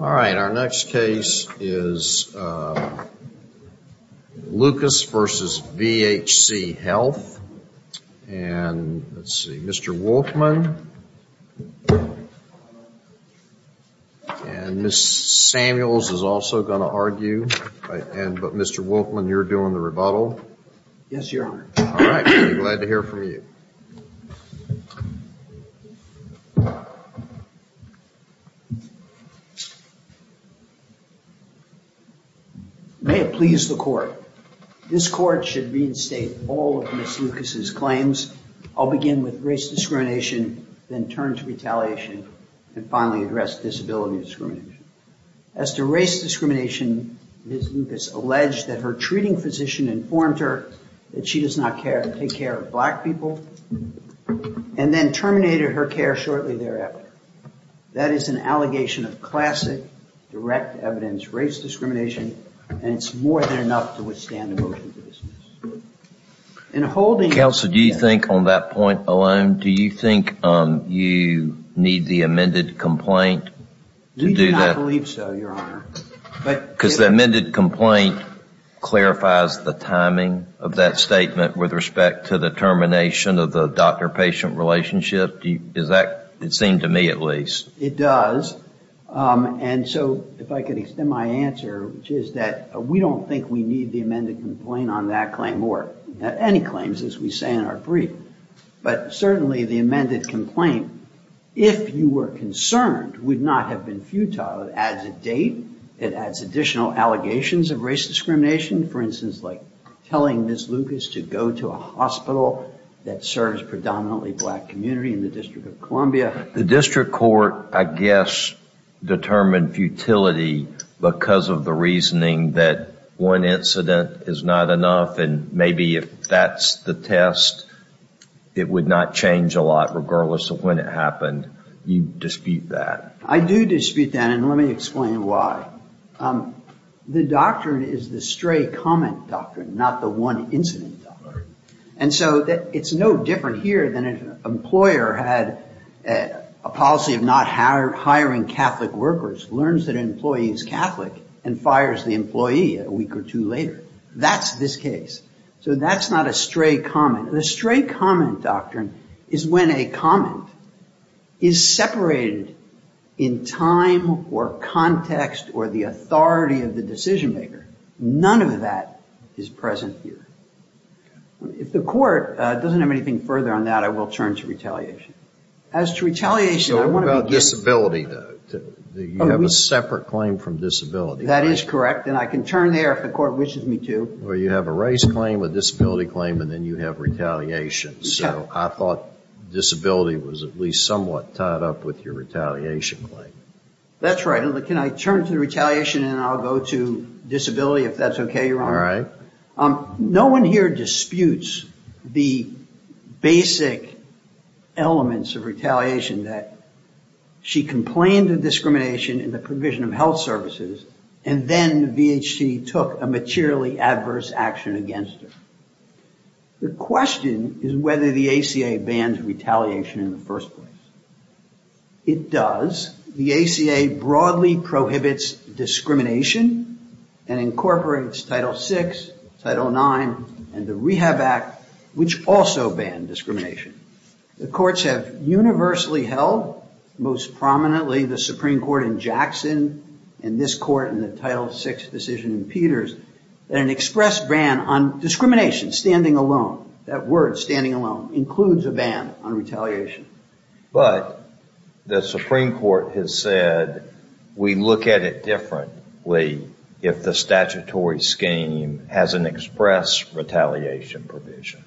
All right, our next case is Lucas versus VHC Health and let's see, Mr. Wolfman And Miss Samuels is also going to argue and but Mr. Wolfman you're doing the rebuttal Yes, you're all right. I'm glad to hear from you May it please the court. This court should reinstate all of Miss Lucas' claims. I'll begin with race discrimination, then turn to retaliation, and finally address disability discrimination. As to race discrimination, Miss Lucas alleged that her treating physician informed her that she does not care to take care of black people and then terminated her care shortly thereafter. That is an allegation of classic direct evidence race discrimination and it's more than enough to withstand a motion to dismiss. Counsel, do you think on that point alone, do you think you need the amended complaint? We do not believe so, Your Honor. Because the amended complaint clarifies the timing of that statement with respect to the termination of the doctor-patient relationship? It seemed to me at least. It does. And so if I could extend my answer, which is that we don't think we need the amended complaint on that claim or any claims as we say in our brief. But certainly the amended complaint, if you were concerned, would not have been futile. It adds a date. It adds additional allegations of race discrimination. For instance, like telling Miss Lucas to go to a hospital that serves predominantly black community in the District of Columbia. The District Court, I guess, determined futility because of the reasoning that one incident is not enough. And maybe if that's the test, it would not change a lot regardless of when it happened. You dispute that. I do dispute that. And let me explain why. The doctrine is the stray comment doctrine, not the one incident doctrine. And so it's no different here than if an employer had a policy of not hiring Catholic workers, learns that an employee is Catholic and fires the employee a week or two later. That's this case. So that's not a stray comment. The stray comment doctrine is when a comment is separated in time or context or the authority of the decision maker. None of that is present here. If the court doesn't have anything further on that, I will turn to retaliation. As to retaliation, I want to begin. So what about disability? You have a separate claim from disability. That is correct. And I can turn there if the court wishes me to. Well, you have a race claim, a disability claim, and then you have retaliation. So I thought disability was at least somewhat tied up with your retaliation claim. That's right. Can I turn to the retaliation and I'll go to disability if that's okay, Your Honor? All right. No one here disputes the basic elements of retaliation that she complained of discrimination in the provision of health services and then VHC took a materially adverse action against her. The question is whether the ACA bans retaliation in the first place. It does. The ACA broadly prohibits discrimination and incorporates Title VI, Title IX, and the Rehab Act, which also ban discrimination. The courts have universally held, most prominently the Supreme Court in Jackson and this court in the Title VI decision in Peters, that an express ban on discrimination, standing alone, that word standing alone, includes a ban on retaliation. But the Supreme Court has said we look at it differently if the statutory scheme has an express retaliation provision.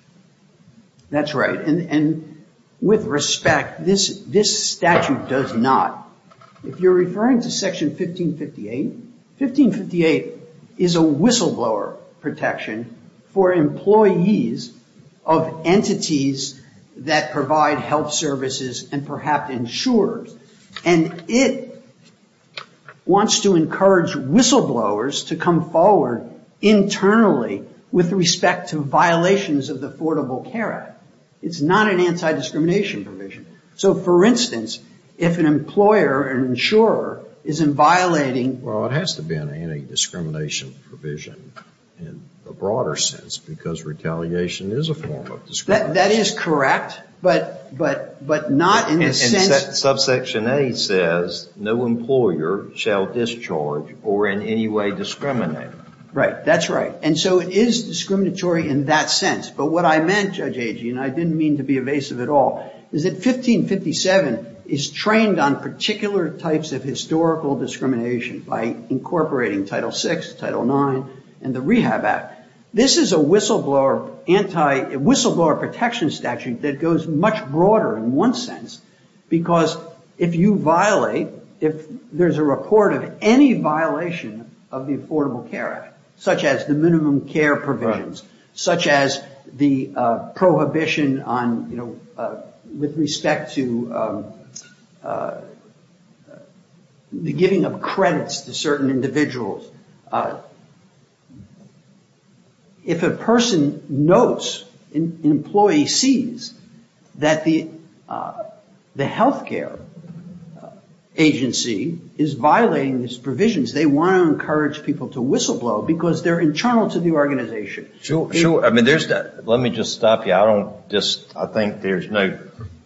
That's right. And with respect, this statute does not. If you're referring to Section 1558, 1558 is a whistleblower protection for employees of entities that provide health services and perhaps insurers. And it wants to encourage whistleblowers to come forward internally with respect to violations of the Affordable Care Act. It's not an anti-discrimination provision. So, for instance, if an employer, an insurer, is violating Well, it has to be an anti-discrimination provision in a broader sense because retaliation is a form of discrimination. That is correct, but not in the sense Subsection A says no employer shall discharge or in any way discriminate. Right, that's right. And so it is discriminatory in that sense. But what I meant, Judge Agee, and I didn't mean to be evasive at all, is that 1557 is trained on particular types of historical discrimination by incorporating Title VI, Title IX, and the Rehab Act. This is a whistleblower protection statute that goes much broader in one sense because if you violate, if there's a report of any violation of the Affordable Care Act, such as the minimum care provisions, such as the prohibition on, you know, with respect to the giving of credits to certain individuals, if a person notes, an employee sees, that the health care agency is violating these provisions, they want to encourage people to whistleblow because they're internal to the organization. Sure. I mean, let me just stop you. I don't just, I think there's no,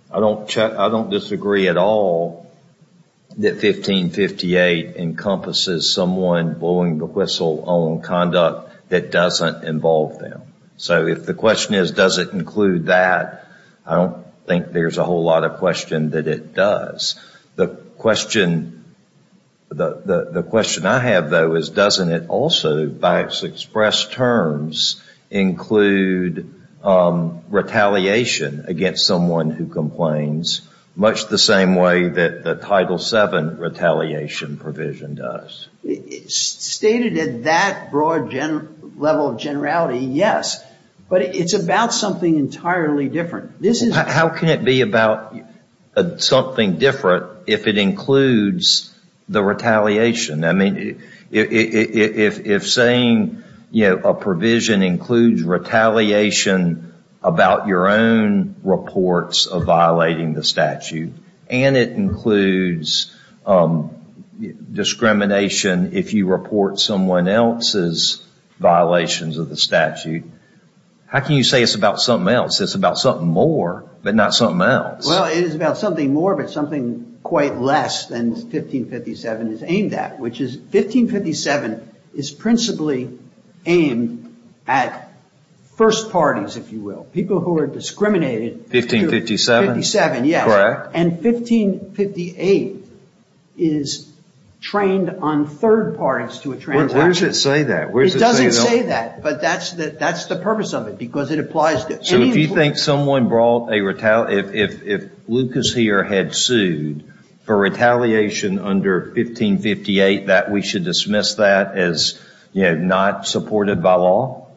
I don't disagree at all that 1558 encompasses someone blowing the whistle on conduct that doesn't involve them. So if the question is, does it include that, I don't think there's a whole lot of question that it does. The question, the question I have, though, is doesn't it also, by its expressed terms, include retaliation against someone who complains much the same way that the Title VII retaliation provision does? Stated at that broad level of generality, yes. But it's about something entirely different. How can it be about something different if it includes the retaliation? I mean, if saying, you know, a provision includes retaliation about your own reports of violating the statute, and it includes discrimination if you report someone else's violations of the statute, how can you say it's about something else? It's about something more, but not something else. Well, it is about something more, but something quite less than 1557 is aimed at, which is 1557 is principally aimed at first parties, if you will, people who are discriminated. 1557? 1557, yes. Correct. And 1558 is trained on third parties to a transaction. Where does it say that? It doesn't say that, but that's the purpose of it because it applies to any employee. So if you think someone brought a retaliation, if Lucas here had sued for retaliation under 1558, that we should dismiss that as, you know, not supported by law?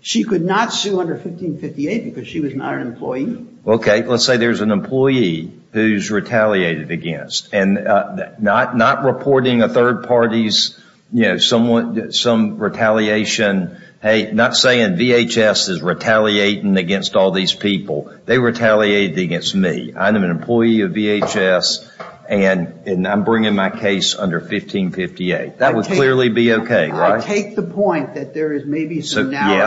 She could not sue under 1558 because she was not an employee. Okay, let's say there's an employee who's retaliated against, and not reporting a third party's, you know, some retaliation. Hey, not saying VHS is retaliating against all these people. They retaliated against me. I'm an employee of VHS, and I'm bringing my case under 1558. That would clearly be okay, right? I take the point that there is maybe some narrow.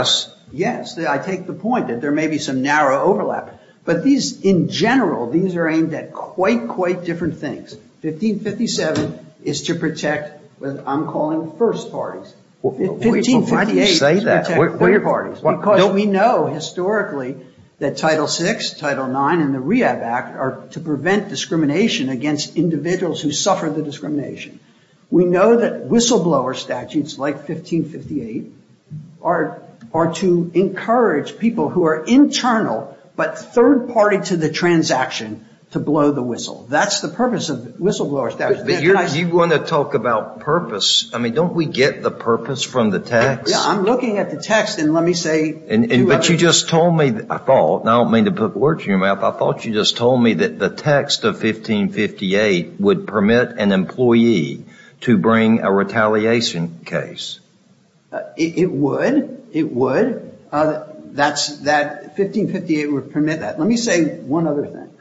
But these, in general, these are aimed at quite, quite different things. 1557 is to protect what I'm calling first parties. Why do you say that? Because we know historically that Title VI, Title IX, and the Rehab Act are to prevent discrimination against individuals who suffer the discrimination. We know that whistleblower statutes like 1558 are to encourage people who are internal but third party to the transaction to blow the whistle. That's the purpose of whistleblower statutes. Do you want to talk about purpose? I mean, don't we get the purpose from the text? I'm looking at the text, and let me say. But you just told me, I thought, and I don't mean to put words in your mouth. I thought you just told me that the text of 1558 would permit an employee to bring a retaliation case. It would. It would. 1558 would permit that. Let me say one other thing,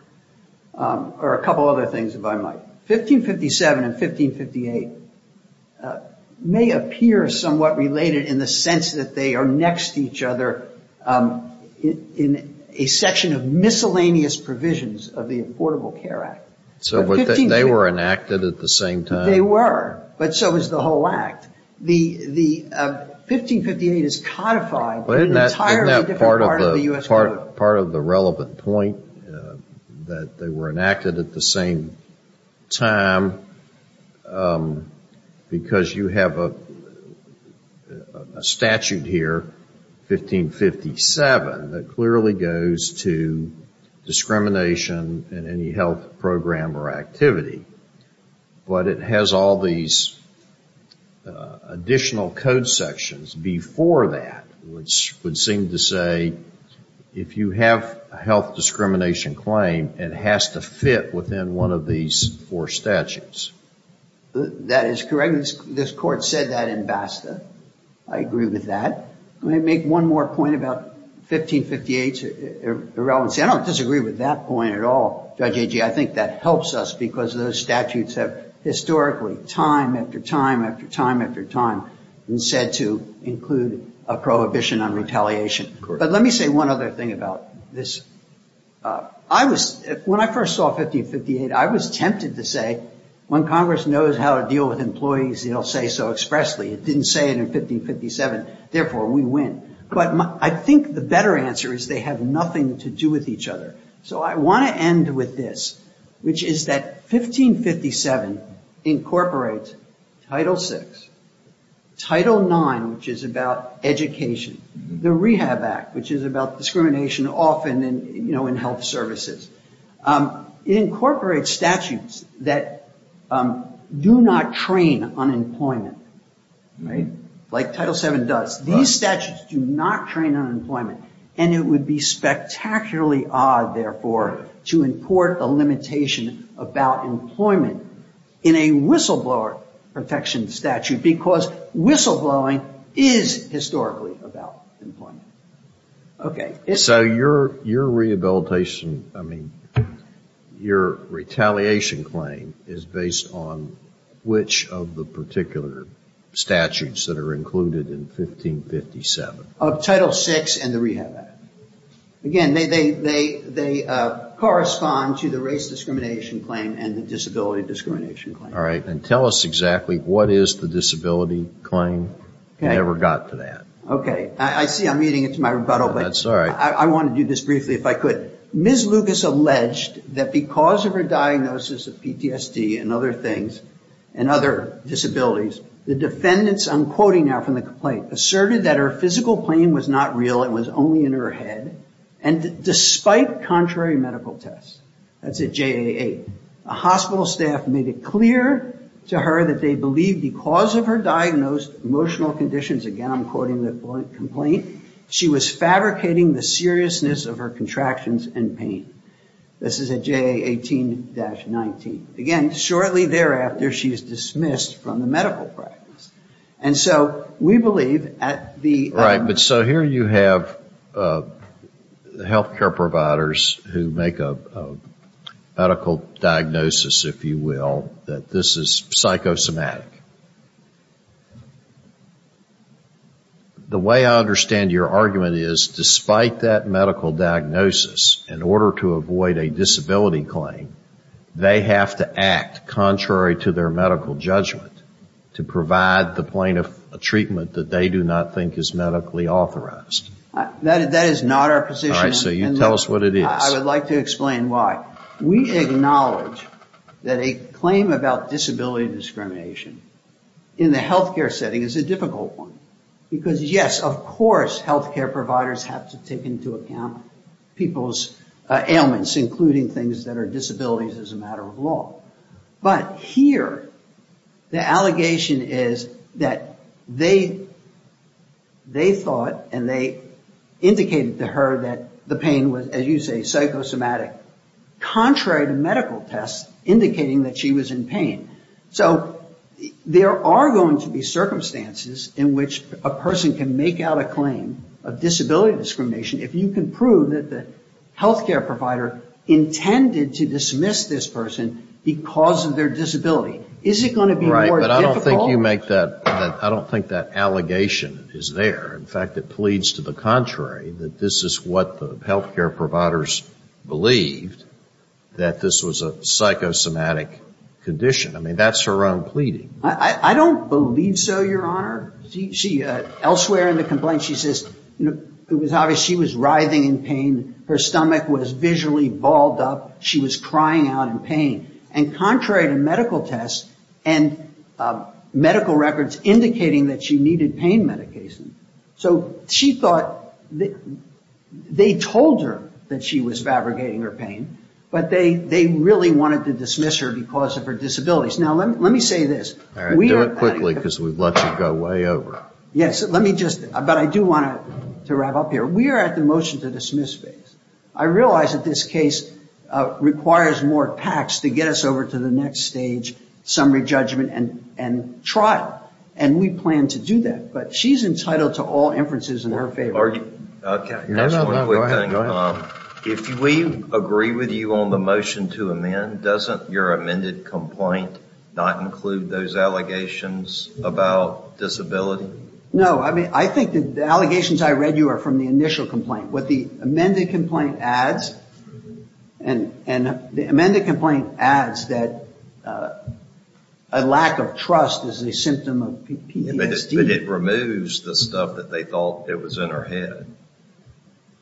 or a couple other things, if I might. 1557 and 1558 may appear somewhat related in the sense that they are next to each other in a section of miscellaneous provisions of the Affordable Care Act. So they were enacted at the same time? They were. But so was the whole act. The 1558 is codified in an entirely different part of the U.S. Code. That's part of the relevant point, that they were enacted at the same time, because you have a statute here, 1557, that clearly goes to discrimination in any health program or activity. But it has all these additional code sections before that, which would seem to say, if you have a health discrimination claim, it has to fit within one of these four statutes. That is correct. This Court said that in BASTA. I agree with that. Let me make one more point about 1558's irrelevancy. I don't disagree with that point at all, Judge Agee. I think that helps us because those statutes have historically, time after time after time after time, been said to include a prohibition on retaliation. But let me say one other thing about this. When I first saw 1558, I was tempted to say, when Congress knows how to deal with employees, it will say so expressly. It didn't say it in 1557. Therefore, we win. But I think the better answer is they have nothing to do with each other. I want to end with this, which is that 1557 incorporates Title VI, Title IX, which is about education, the Rehab Act, which is about discrimination often in health services. It incorporates statutes that do not train unemployment, like Title VII does. These statutes do not train unemployment, and it would be spectacularly odd, therefore, to import a limitation about employment in a whistleblower protection statute because whistleblowing is historically about employment. Okay. Of Title VI and the Rehab Act. Again, they correspond to the race discrimination claim and the disability discrimination claim. All right. And tell us exactly what is the disability claim. I never got to that. Okay. I see I'm eating into my rebuttal. That's all right. I want to do this briefly, if I could. Ms. Lucas alleged that because of her diagnosis of PTSD and other things and other disabilities, the defendants, I'm quoting now from the complaint, asserted that her physical pain was not real. It was only in her head. And despite contrary medical tests, that's at JA-8, a hospital staff made it clear to her that they believed because of her diagnosed emotional conditions, again, I'm quoting the complaint, she was fabricating the seriousness of her contractions and pain. This is at JA-18-19. Again, shortly thereafter, she is dismissed from the medical practice. And so we believe at the... But so here you have health care providers who make a medical diagnosis, if you will, that this is psychosomatic. The way I understand your argument is, despite that medical diagnosis, in order to avoid a disability claim, they have to act contrary to their medical judgment to provide the plaintiff a treatment that they do not think is medically authorized. That is not our position. All right. So you tell us what it is. I would like to explain why. We acknowledge that a claim about disability discrimination in the health care setting is a difficult one. Because, yes, of course health care providers have to take into account people's ailments, including things that are disabilities as a matter of law. But here the allegation is that they thought and they indicated to her that the pain was, as you say, psychosomatic, contrary to medical tests indicating that she was in pain. So there are going to be circumstances in which a person can make out a claim of disability discrimination if you can prove that the health care provider intended to dismiss this person because of their disability. Is it going to be more difficult? But I don't think you make that. I don't think that allegation is there. In fact, it pleads to the contrary, that this is what the health care providers believed, that this was a psychosomatic condition. I mean, that's her own pleading. I don't believe so, Your Honor. Elsewhere in the complaint she says it was obvious she was writhing in pain. Her stomach was visually balled up. She was crying out in pain. And contrary to medical tests and medical records indicating that she needed pain medication. So she thought they told her that she was fabricating her pain, but they really wanted to dismiss her because of her disabilities. Now, let me say this. All right, do it quickly because we've let you go way over. Yes, let me just, but I do want to wrap up here. We are at the motion to dismiss phase. I realize that this case requires more PACs to get us over to the next stage, summary judgment and trial. And we plan to do that. But she's entitled to all inferences in her favor. Just one quick thing. If we agree with you on the motion to amend, doesn't your amended complaint not include those allegations about disability? No, I mean, I think the allegations I read you are from the initial complaint. What the amended complaint adds, and the amended complaint adds that a lack of trust is a symptom of PTSD. But it removes the stuff that they thought it was in her head.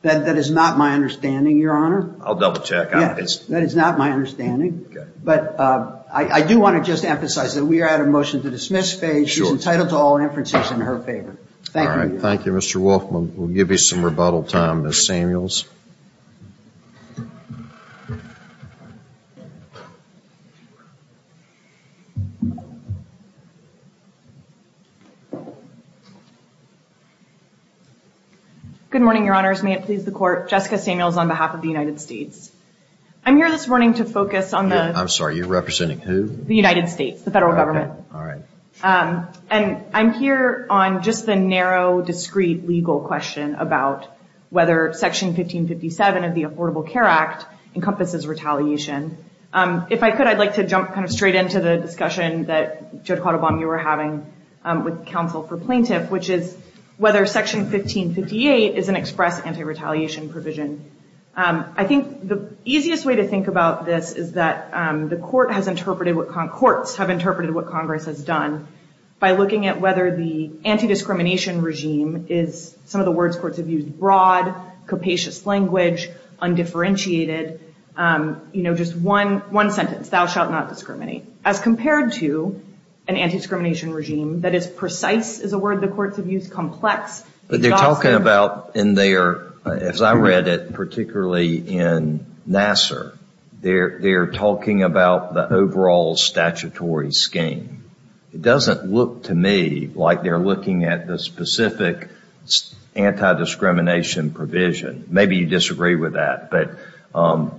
That is not my understanding, Your Honor. I'll double check. That is not my understanding. But I do want to just emphasize that we are at a motion to dismiss phase. She's entitled to all inferences in her favor. Thank you. Thank you, Mr. Wolf. We'll give you some rebuttal time, Ms. Samuels. Good morning, Your Honors. May it please the Court. Jessica Samuels on behalf of the United States. I'm here this morning to focus on the... I'm sorry. You're representing who? The United States, the federal government. All right. And I'm here on just the narrow, discreet legal question about whether Section 1557 of the Affordable Care Act encompasses retaliation. If I could, I'd like to jump straight into the discussion that Judge Quattlebaum, you were having with counsel for plaintiff, which is whether Section 1558 is an express anti-retaliation provision. I think the easiest way to think about this is that courts have interpreted what Congress has done by looking at whether the anti-discrimination regime is, some of the words courts have used, broad, capacious language, undifferentiated. You know, just one sentence, thou shalt not discriminate. As compared to an anti-discrimination regime that is precise, is a word the courts have used, complex... But they're talking about in their... As I read it, particularly in Nassar, they're talking about the overall statutory scheme. It doesn't look to me like they're looking at the specific anti-discrimination provision. Maybe you disagree with that. But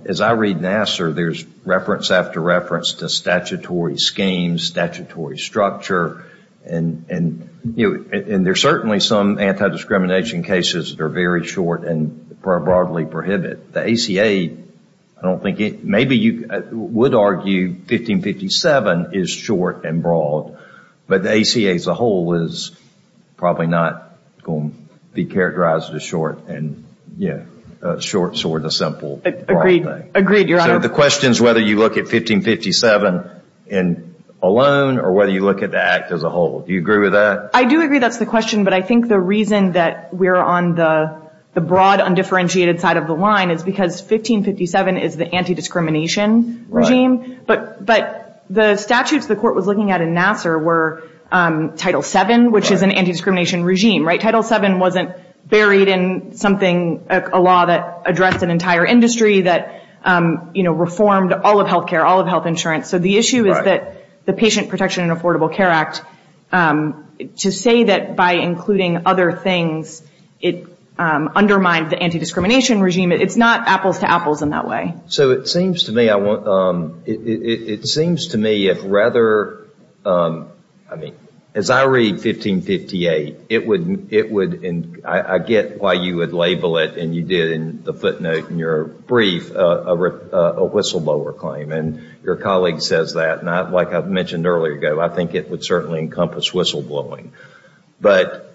as I read Nassar, there's reference after reference to statutory schemes, statutory structure, and there's certainly some anti-discrimination cases that are very short and are broadly prohibited. The ACA, I don't think it... Maybe you would argue 1557 is short and broad, but the ACA as a whole is probably not going to be characterized as short and, yeah, short, short, a simple broad thing. Agreed. Agreed, Your Honor. So the question is whether you look at 1557 alone or whether you look at the Act as a whole. Do you agree with that? I do agree that's the question, but I think the reason that we're on the broad, undifferentiated side of the line is because 1557 is the anti-discrimination regime. But the statutes the court was looking at in Nassar were Title VII, which is an anti-discrimination regime. Title VII wasn't buried in something, a law that addressed an entire industry that reformed all of health care, all of health insurance. So the issue is that the Patient Protection and Affordable Care Act, to say that by including other things, it undermined the anti-discrimination regime, it's not apples to apples in that way. So it seems to me if rather, I mean, as I read 1558, I get why you would label it, and you did in the footnote in your brief, a whistleblower claim. And your colleague says that, and like I mentioned earlier, I think it would certainly encompass whistleblowing. But,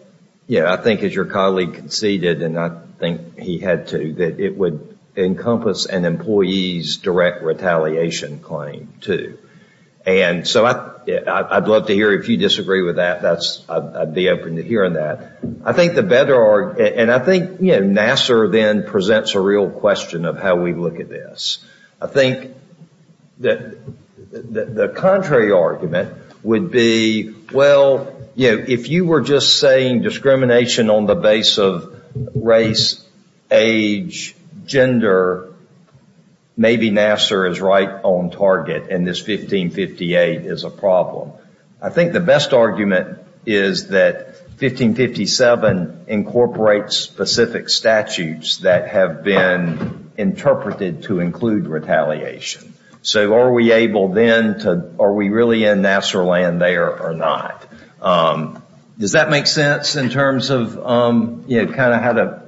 you know, I think as your colleague conceded, and I think he had too, that it would encompass an employee's direct retaliation claim too. And so I'd love to hear if you disagree with that. I'd be open to hearing that. I think the better, and I think Nassar then presents a real question of how we look at this. I think that the contrary argument would be, well, you know, if you were just saying discrimination on the base of race, age, gender, maybe Nassar is right on target and this 1558 is a problem. I think the best argument is that 1557 incorporates specific statutes that have been interpreted to include retaliation. So are we able then to, are we really in Nassar land there or not? Does that make sense in terms of, you know, kind of how to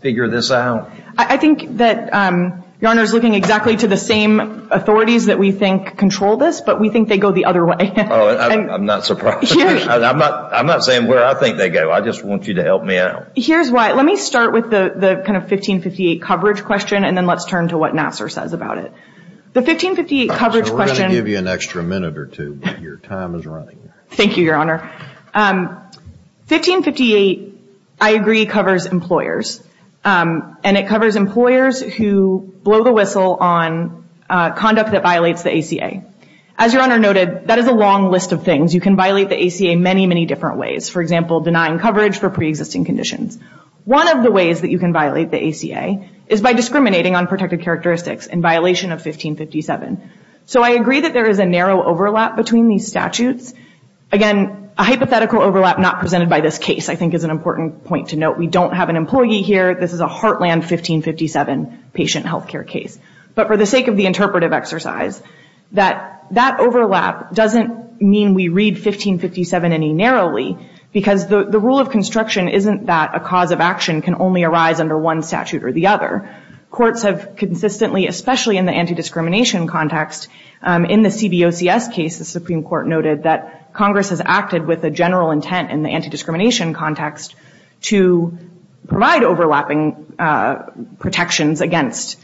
figure this out? I think that Your Honor is looking exactly to the same authorities that we think control this, but we think they go the other way. I'm not surprised. I'm not saying where I think they go. I just want you to help me out. Here's why. Let me start with the kind of 1558 coverage question and then let's turn to what Nassar says about it. The 1558 coverage question. We're going to give you an extra minute or two, but your time is running. Thank you, Your Honor. 1558, I agree, covers employers, and it covers employers who blow the whistle on conduct that violates the ACA. As Your Honor noted, that is a long list of things. You can violate the ACA many, many different ways. For example, denying coverage for preexisting conditions. One of the ways that you can violate the ACA is by discriminating on protected characteristics in violation of 1557. So I agree that there is a narrow overlap between these statutes. Again, a hypothetical overlap not presented by this case I think is an important point to note. We don't have an employee here. This is a Heartland 1557 patient health care case. But for the sake of the interpretive exercise, that overlap doesn't mean we read 1557 any narrowly, because the rule of construction isn't that a cause of action can only arise under one statute or the other. Courts have consistently, especially in the anti-discrimination context, in the CBOCS case, the Supreme Court noted that Congress has acted with a general intent in the anti-discrimination context to provide overlapping protections against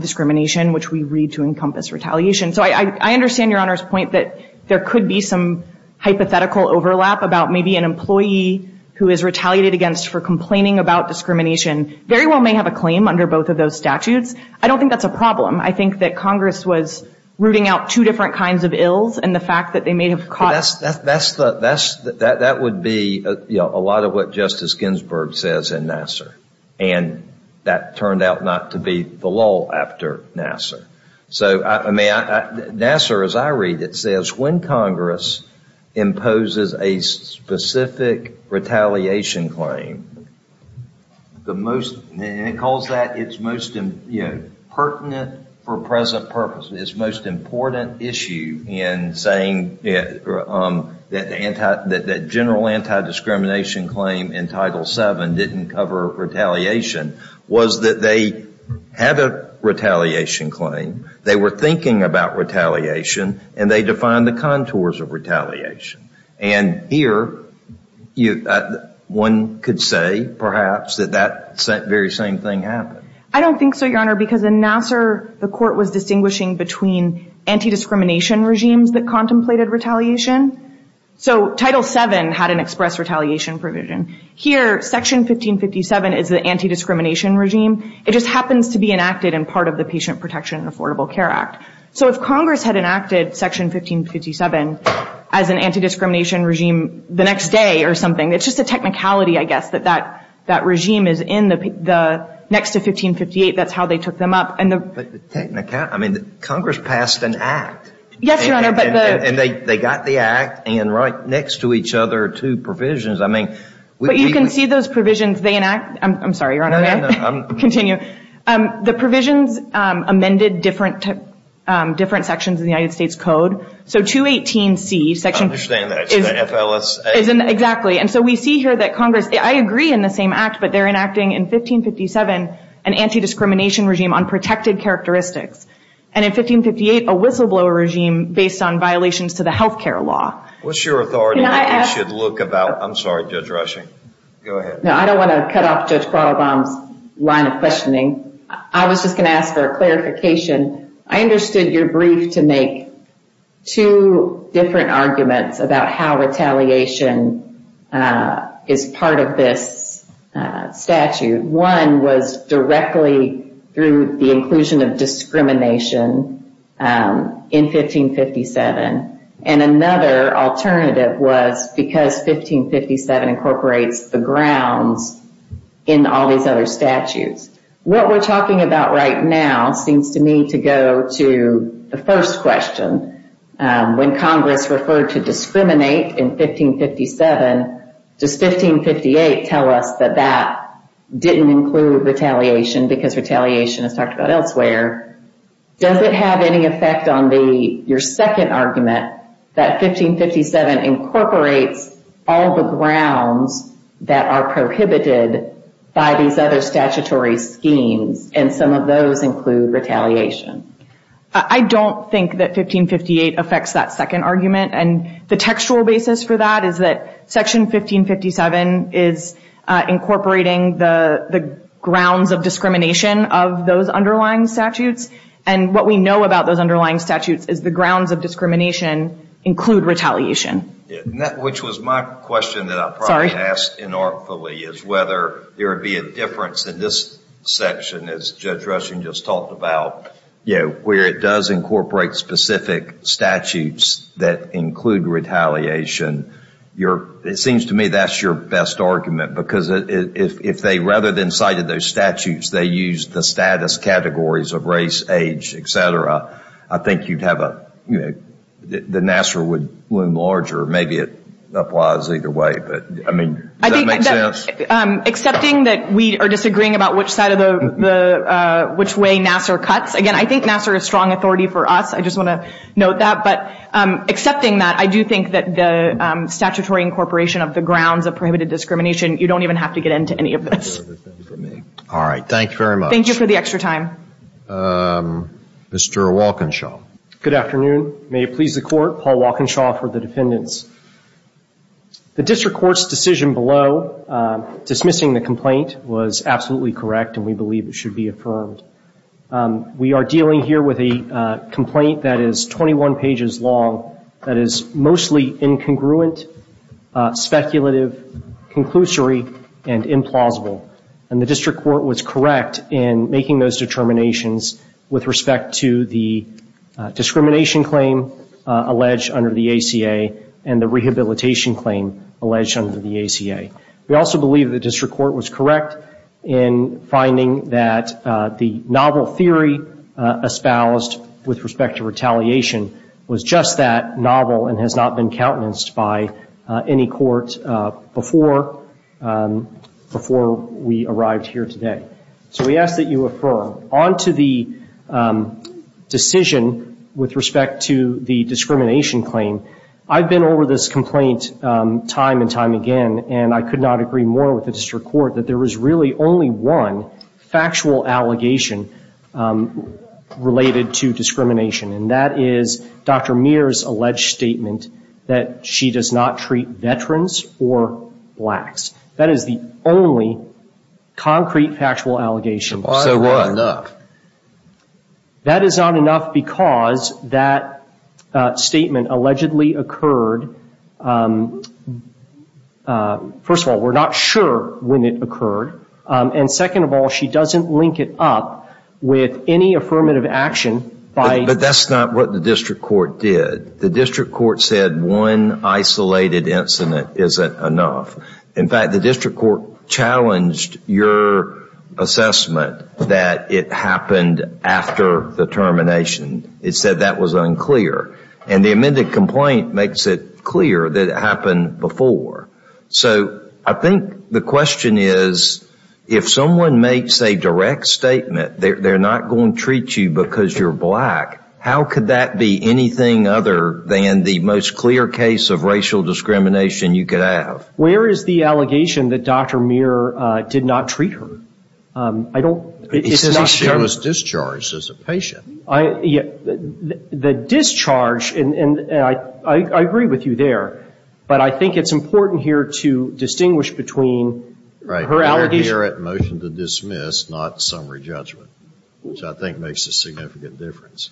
discrimination, which we read to encompass retaliation. So I understand Your Honor's point that there could be some hypothetical overlap about maybe an employee who is retaliated against for complaining about discrimination very well may have a claim under both of those statutes. I don't think that's a problem. I think that Congress was rooting out two different kinds of ills and the fact that they may have caught. That would be a lot of what Justice Ginsburg says in Nassar. And that turned out not to be the lull after Nassar. So Nassar, as I read it, says when Congress imposes a specific retaliation claim, and it calls that its most pertinent for present purposes, its most important issue in saying that the general anti-discrimination claim in Title VII didn't cover retaliation was that they had a retaliation claim, they were thinking about retaliation, and they defined the contours of retaliation. And here one could say, perhaps, that that very same thing happened. I don't think so, Your Honor, because in Nassar, the court was distinguishing between anti-discrimination regimes that contemplated retaliation. So Title VII had an express retaliation provision. Here, Section 1557 is the anti-discrimination regime. It just happens to be enacted in part of the Patient Protection and Affordable Care Act. So if Congress had enacted Section 1557 as an anti-discrimination regime the next day or something, it's just a technicality, I guess, that that regime is in the next to 1558. That's how they took them up. But technicality, I mean, Congress passed an act. Yes, Your Honor. And they got the act, and right next to each other, two provisions. But you can see those provisions they enact. I'm sorry, Your Honor. No, no, no. Continue. The provisions amended different sections of the United States Code. So 218C, Section- I understand that. It's the FLSA. Exactly. And so we see here that Congress, I agree in the same act, but they're enacting in 1557 an anti-discrimination regime on protected characteristics, and in 1558 a whistleblower regime based on violations to the health care law. What's your authority that we should look about- I'm sorry, Judge Rushing. Go ahead. No, I don't want to cut off Judge Karlbaum's line of questioning. I was just going to ask for a clarification. I understood your brief to make two different arguments about how retaliation is part of this statute. One was directly through the inclusion of discrimination in 1557, and another alternative was because 1557 incorporates the grounds in all these other statutes. What we're talking about right now seems to me to go to the first question. When Congress referred to discriminate in 1557, does 1558 tell us that that didn't include retaliation because retaliation is talked about elsewhere? Does it have any effect on your second argument, that 1557 incorporates all the grounds that are prohibited by these other statutory schemes, and some of those include retaliation? I don't think that 1558 affects that second argument, and the textual basis for that is that Section 1557 is incorporating the grounds of discrimination of those underlying statutes, and what we know about those underlying statutes is the grounds of discrimination include retaliation. Which was my question that I probably asked inartfully, is whether there would be a difference in this section, as Judge Rushing just talked about, where it does incorporate specific statutes that include retaliation. It seems to me that's your best argument, because if they rather than cited those statutes, they used the status categories of race, age, et cetera, I think the Nassar would loom larger. Maybe it applies either way, but does that make sense? Accepting that we are disagreeing about which way Nassar cuts, again, I think Nassar is strong authority for us. I just want to note that, but accepting that, I do think that the statutory incorporation of the grounds of prohibited discrimination, you don't even have to get into any of this. All right, thank you very much. Thank you for the extra time. Mr. Walkinshaw. Good afternoon. May it please the Court, Paul Walkinshaw for the defendants. The district court's decision below dismissing the complaint was absolutely correct, and we believe it should be affirmed. We are dealing here with a complaint that is 21 pages long, that is mostly incongruent, speculative, conclusory, and implausible. And the district court was correct in making those determinations with respect to the discrimination claim alleged under the ACA and the rehabilitation claim alleged under the ACA. We also believe the district court was correct in finding that the novel theory espoused with respect to retaliation was just that, novel, and has not been countenanced by any court before we arrived here today. So we ask that you affirm. On to the decision with respect to the discrimination claim. I've been over this complaint time and time again, and I could not agree more with the district court that there was really only one factual allegation related to discrimination, and that is Dr. Mears' alleged statement that she does not treat veterans or blacks. That is the only concrete factual allegation. So why is that not enough? That is not enough because that statement allegedly occurred, first of all, we're not sure when it occurred, and second of all, she doesn't link it up with any affirmative action. But that's not what the district court did. The district court said one isolated incident isn't enough. In fact, the district court challenged your assessment that it happened after the termination. It said that was unclear. And the amended complaint makes it clear that it happened before. So I think the question is, if someone makes a direct statement, they're not going to treat you because you're black, how could that be anything other than the most clear case of racial discrimination you could have? Where is the allegation that Dr. Mears did not treat her? It's not shown. She was discharged as a patient. The discharge, and I agree with you there, but I think it's important here to distinguish between her allegation. She was here at motion to dismiss, not summary judgment, which I think makes a significant difference.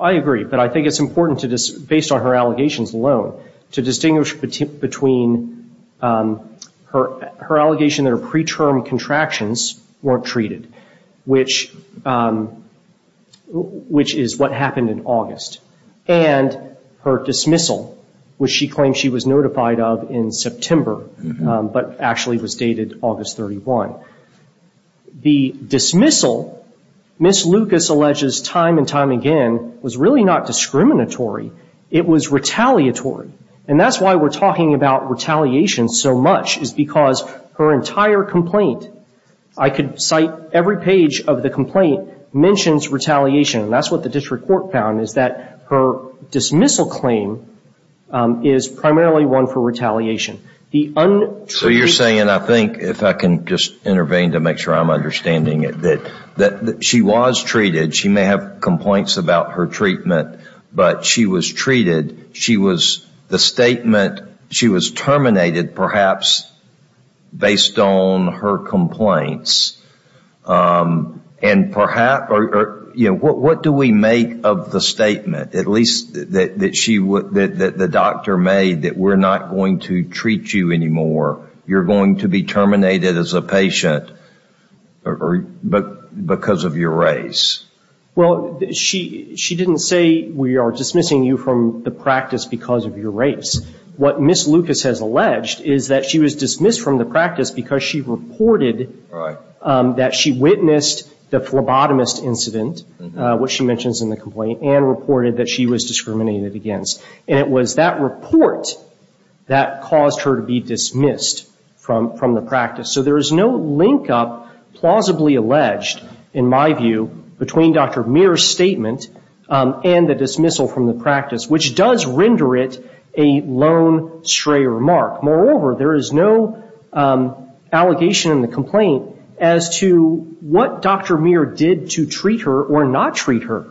I agree. But I think it's important, based on her allegations alone, to distinguish between her allegation that her preterm contractions weren't treated, which is what happened in August, and her dismissal, which she claimed she was notified of in September, but actually was dated August 31. The dismissal, Ms. Lucas alleges time and time again, was really not discriminatory. It was retaliatory. And that's why we're talking about retaliation so much, is because her entire complaint, I could cite every page of the complaint, mentions retaliation. And that's what the district court found, is that her dismissal claim is primarily one for retaliation. So you're saying, I think, if I can just intervene to make sure I'm understanding it, that she was treated. She may have complaints about her treatment, but she was treated. The statement, she was terminated, perhaps based on her complaints. And perhaps, you know, what do we make of the statement, at least that the doctor made, that we're not going to treat you anymore. You're going to be terminated as a patient because of your race. Well, she didn't say we are dismissing you from the practice because of your race. What Ms. Lucas has alleged is that she was dismissed from the practice because she reported that she witnessed the phlebotomist incident, which she mentions in the complaint, and reported that she was discriminated against. And it was that report that caused her to be dismissed from the practice. So there is no link-up, plausibly alleged, in my view, between Dr. Muir's statement and the dismissal from the practice, which does render it a lone, stray remark. Moreover, there is no allegation in the complaint as to what Dr. Muir did to treat her or not treat her.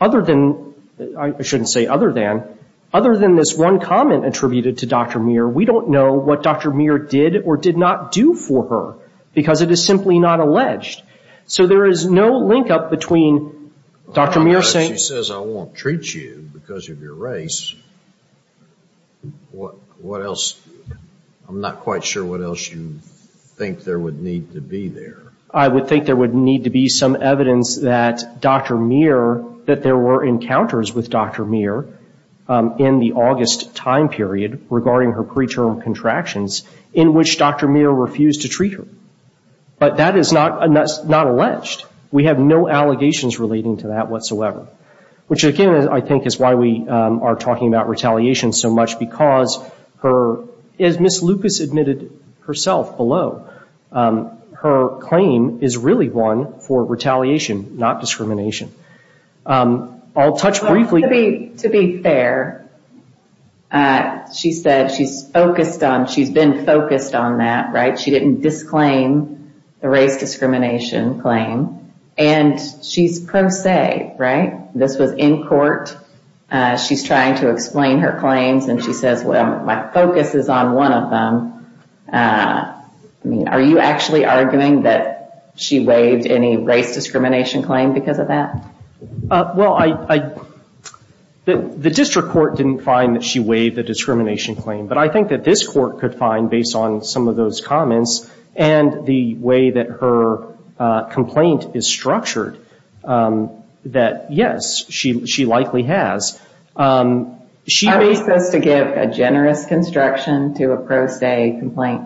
Other than, I shouldn't say other than, other than this one comment attributed to Dr. Muir, we don't know what Dr. Muir did or did not do for her because it is simply not alleged. So there is no link-up between Dr. Muir saying... She says I won't treat you because of your race. What else? I'm not quite sure what else you think there would need to be there. I would think there would need to be some evidence that Dr. Muir, that there were encounters with Dr. Muir in the August time period, regarding her preterm contractions, in which Dr. Muir refused to treat her. But that is not alleged. We have no allegations relating to that whatsoever. Which, again, I think is why we are talking about retaliation so much, because her... As Ms. Lucas admitted herself below, her claim is really one for retaliation, not discrimination. I'll touch briefly... To be fair, she said she's focused on, she's been focused on that, right? That she didn't disclaim the race discrimination claim, and she's pro se, right? This was in court. She's trying to explain her claims, and she says, well, my focus is on one of them. Are you actually arguing that she waived any race discrimination claim because of that? Well, I... The district court didn't find that she waived the discrimination claim, but I think that this court could find, based on some of those comments and the way that her complaint is structured, that yes, she likely has. Are we supposed to give a generous construction to a pro se complaint?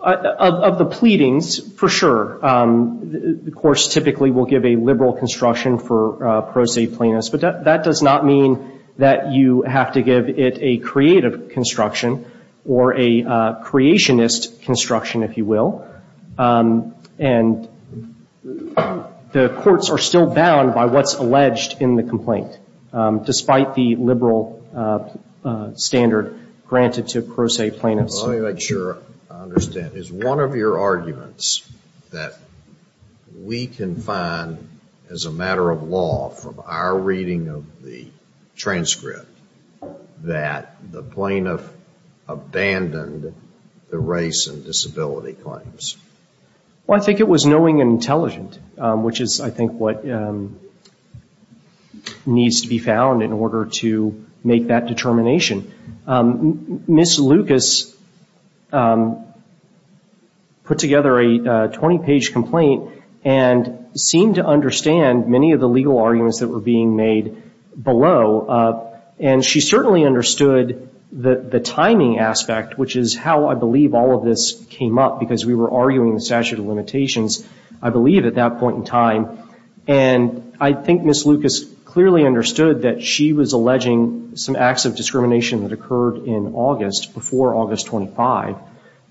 Of the pleadings, for sure. Of course, typically we'll give a liberal construction for pro se plaintiffs, but that does not mean that you have to give it a creative construction or a creationist construction, if you will. And the courts are still bound by what's alleged in the complaint, despite the liberal standard granted to pro se plaintiffs. Let me make sure I understand. Is one of your arguments that we can find, as a matter of law, from our reading of the transcript, that the plaintiff abandoned the race and disability claims? Well, I think it was knowing and intelligent, which is, I think, what needs to be found in order to make that determination. Ms. Lucas put together a 20-page complaint and seemed to understand many of the legal arguments that were being made below, and she certainly understood the timing aspect, which is how, I believe, all of this came up, because we were arguing the statute of limitations, I believe, at that point in time. And I think Ms. Lucas clearly understood that she was alleging some acts of discrimination that occurred in August, before August 25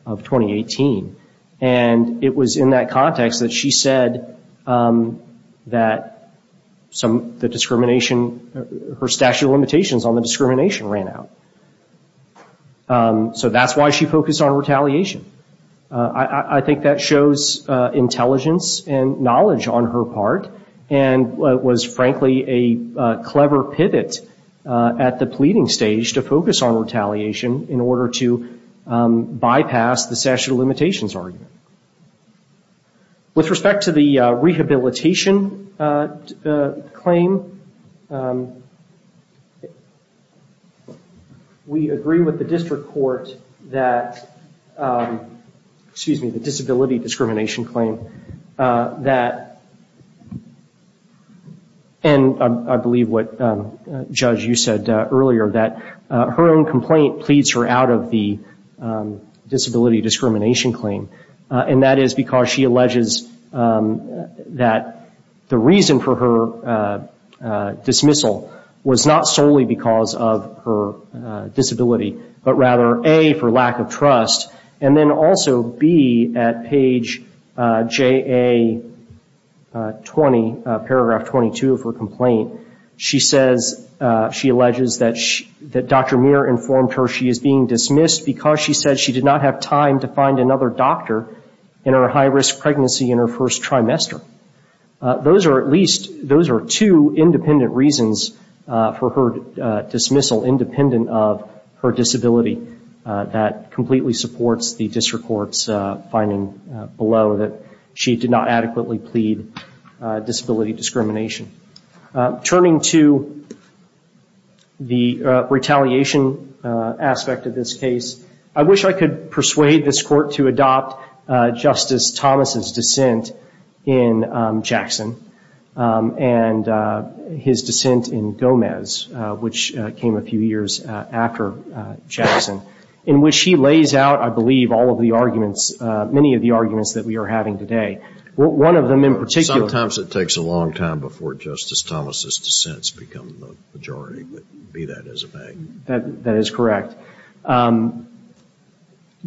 of 2018. And it was in that context that she said that the discrimination, her statute of limitations on the discrimination ran out. So that's why she focused on retaliation. And was, frankly, a clever pivot at the pleading stage to focus on retaliation in order to bypass the statute of limitations argument. With respect to the rehabilitation claim, we agree with the district court that, excuse me, and I believe what, Judge, you said earlier, that her own complaint pleads her out of the disability discrimination claim. And that is because she alleges that the reason for her dismissal was not solely because of her disability, but rather, A, for lack of trust, and then also, B, at page JA-12, paragraph 22 of her complaint, she says, she alleges that Dr. Muir informed her she is being dismissed because she said she did not have time to find another doctor in her high-risk pregnancy in her first trimester. Those are at least, those are two independent reasons for her dismissal, independent of her disability. That completely supports the district court's finding below that she did not adequately plead, and that she did not have time for disability discrimination. Turning to the retaliation aspect of this case, I wish I could persuade this court to adopt Justice Thomas' dissent in Jackson, and his dissent in Gomez, which came a few years after Jackson, in which he lays out, I believe, all of the arguments, that we are having today. One of them in particular — Sometimes it takes a long time before Justice Thomas' dissents become the majority, but be that as it may. That is correct.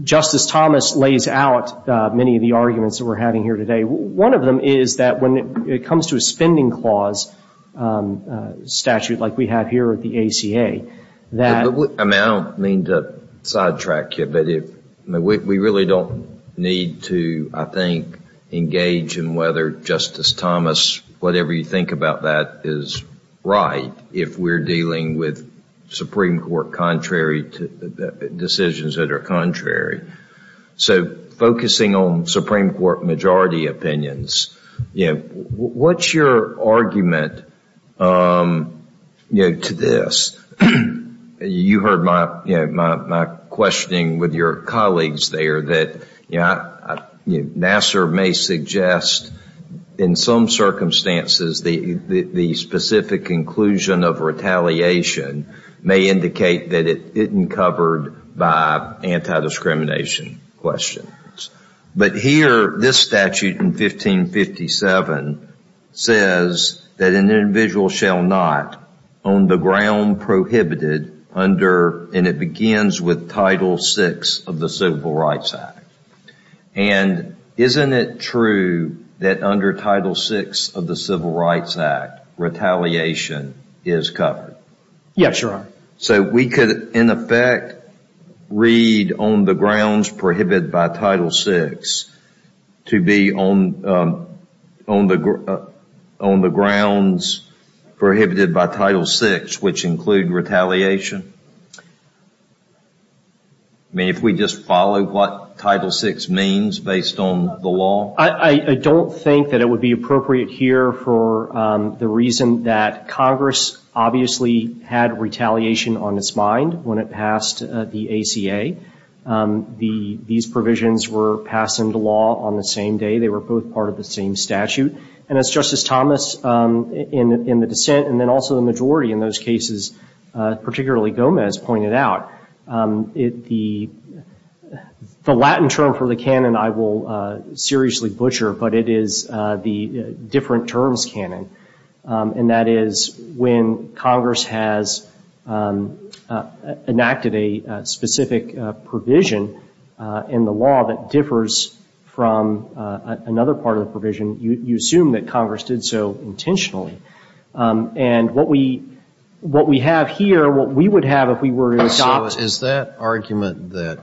Justice Thomas lays out many of the arguments that we're having here today. One of them is that when it comes to a spending clause statute like we have here at the ACA, that — I don't mean to sidetrack you, but we really don't need to, I think, engage in whether Justice Thomas, whatever you think about that, is right if we're dealing with Supreme Court decisions that are contrary. Focusing on Supreme Court majority opinions, what's your argument to this? You heard my questioning with your colleagues there. Nassar may suggest in some circumstances the specific inclusion of retaliation may indicate that it isn't covered by anti-discrimination questions. But here, this statute in 1557 says that an individual shall not, on the ground prohibited, under — and it begins with Title VI of the Civil Rights Act. And isn't it true that under Title VI of the Civil Rights Act, retaliation is covered? Yes, Your Honor. So we could, in effect, read on the grounds prohibited by Title VI to be on the grounds prohibited by Title VI, which include retaliation? I mean, if we just follow what Title VI means based on the law? I don't think that it would be appropriate here for the reason that Congress obviously had retaliation on its mind when it passed the ACA. These provisions were passed into law on the same day. They were both part of the same statute. And as Justice Thomas in the dissent and then also the majority in those cases, particularly Gomez, pointed out, the Latin term for the canon I will seriously butcher, but it is the different terms canon. And that is when Congress has enacted a specific provision in the law that differs from another part of the provision, and you assume that Congress did so intentionally. And what we have here, what we would have if we were to adopt — So is that argument that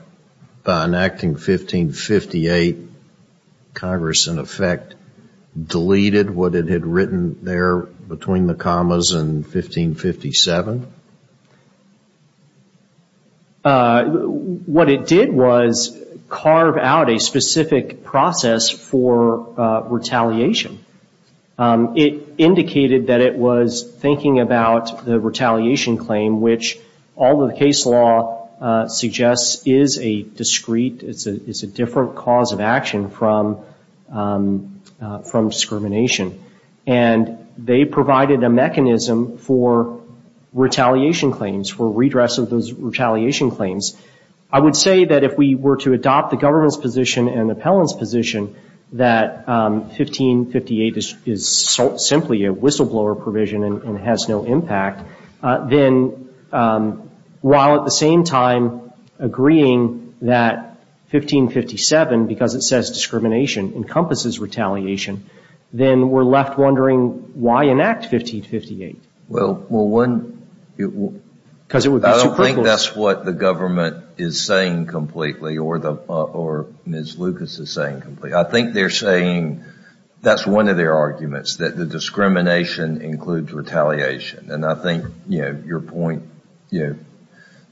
by enacting 1558 Congress, in effect, deleted what it had written there between the commas in 1557? What it did was carve out a specific process for retaliation. It indicated that it was thinking about the retaliation claim, which although the case law suggests is a discrete, it's a different cause of action from discrimination. And they provided a mechanism for retaliation claims, for redress of those retaliation claims. I would say that if we were to adopt the government's position and the appellant's position that 1558 is simply a whistleblower provision and has no impact, then while at the same time agreeing that 1557, because it says discrimination, encompasses retaliation, then we're left wondering why enact 1558. I don't think that's what the government is saying completely, or Ms. Lucas is saying completely. I think they're saying that's one of their arguments, that the discrimination includes retaliation. And I think your point,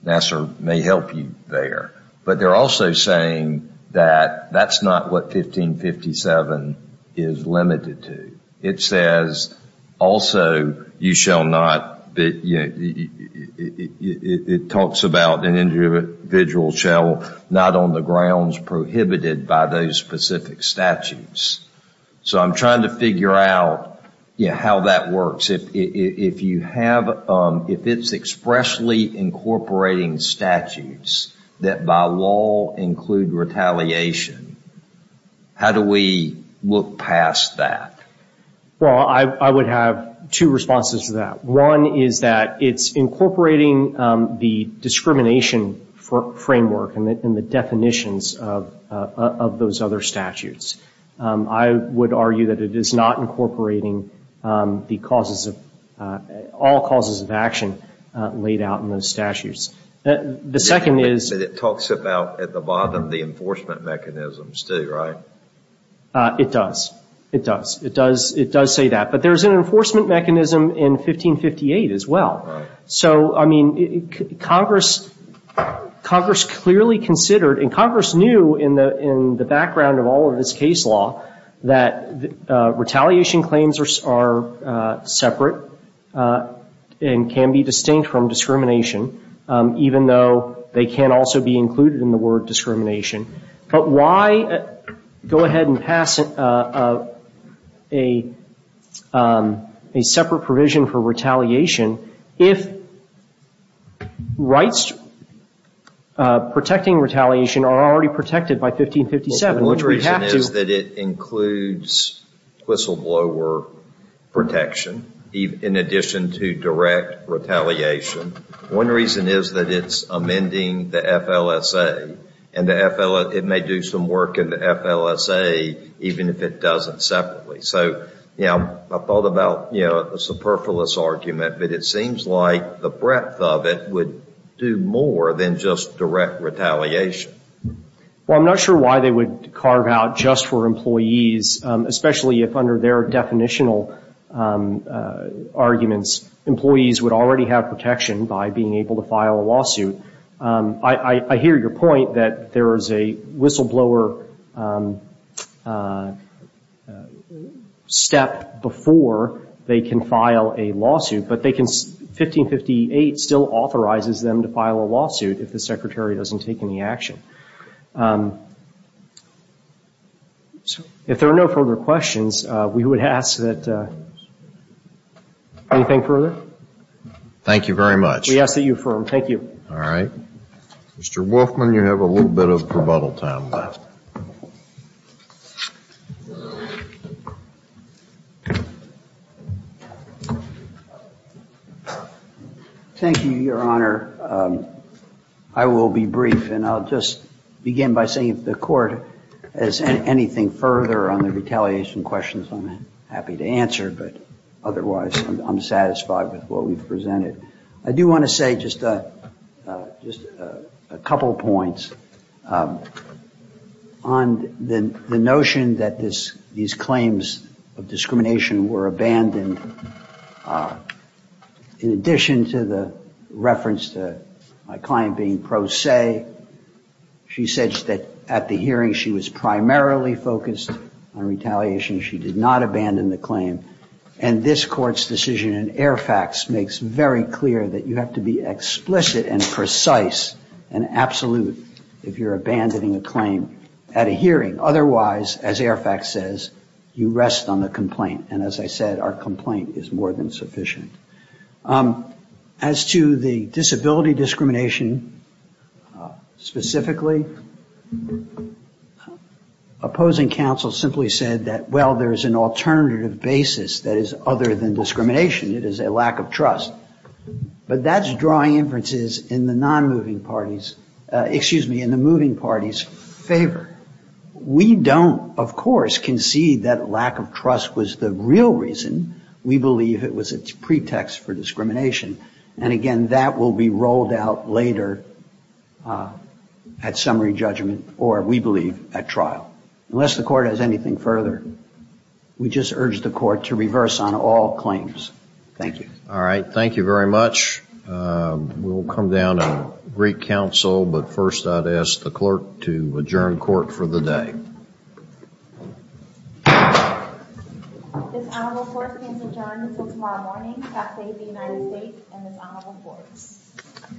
Nassar, may help you there. But they're also saying that that's not what 1557 is limited to. It says, also, you shall not, it talks about an individual shall not on the grounds prohibited by those specific statutes. So I'm trying to figure out how that works. If you have, if it's expressly incorporating statutes that by law include retaliation, how do we look past that? Well, I would have two responses to that. One is that it's incorporating the discrimination framework and the definitions of those other statutes. I would argue that it is not incorporating the causes of, all causes of action laid out in those statutes. The second is... It talks about, at the bottom, the enforcement mechanisms too, right? It does. It does. It does say that. But there's an enforcement mechanism in 1558 as well. So, I mean, Congress clearly considered, and Congress knew in the background of all of this case law, that retaliation claims are separate and can be distinct from discrimination, even though they can also be included in the word discrimination. But why go ahead and pass a separate provision for retaliation if rights protecting retaliation are already protected by 1557? Which we have to... Well, the one reason is that it includes whistleblower protection in addition to direct retaliation. One reason is that it's amending the FLSA, and it may do some work in the FLSA even if it doesn't separately. So, you know, I thought about a superfluous argument, but it seems like the breadth of it would do more than just direct retaliation. Well, I'm not sure why they would carve out just for employees, especially if under their definitional arguments, employees would already have protection by being able to file a lawsuit. I hear your point that there is a whistleblower step before they can file a lawsuit, but they can, 1558 still authorizes them to file a lawsuit if the Secretary doesn't take any action. If there are no further questions, we would ask that...anything further? Thank you very much. We ask that you affirm. Thank you. All right. Mr. Wolfman, you have a little bit of rebuttal time left. Thank you, Your Honor. I will be brief, and I'll just begin by saying if the Court has anything further on the retaliation questions, I'm happy to answer, but otherwise I'm satisfied with what we've presented. I do want to say just a couple points on the notion that these claims of discrimination were abandoned. In addition to the reference to my client being pro se, she said that at the hearing, she was primarily focused on retaliation. She did not abandon the claim, and this Court's decision in Airfax makes very clear that you have to be explicit and precise and absolute if you're abandoning a claim at a hearing. Otherwise, as Airfax says, you rest on the complaint, and as I said, our complaint is more than sufficient. As to the disability discrimination specifically, opposing counsel simply said that, well, there's an alternative basis that is other than discrimination. It is a lack of trust. But that's drawing inferences in the moving party's favor. We don't, of course, concede that lack of trust was the real reason. We believe it was a pretext for discrimination. And again, that will be rolled out later at summary judgment or, we believe, at trial. Unless the Court has anything further, we just urge the Court to reverse on all claims. Thank you. All right. Thank you very much. We'll come down to Greek counsel, but first I'd ask the Clerk to adjourn Court for the day. Thank you. This Honorable Court is adjourned until tomorrow morning. That's the United States and this Honorable Court.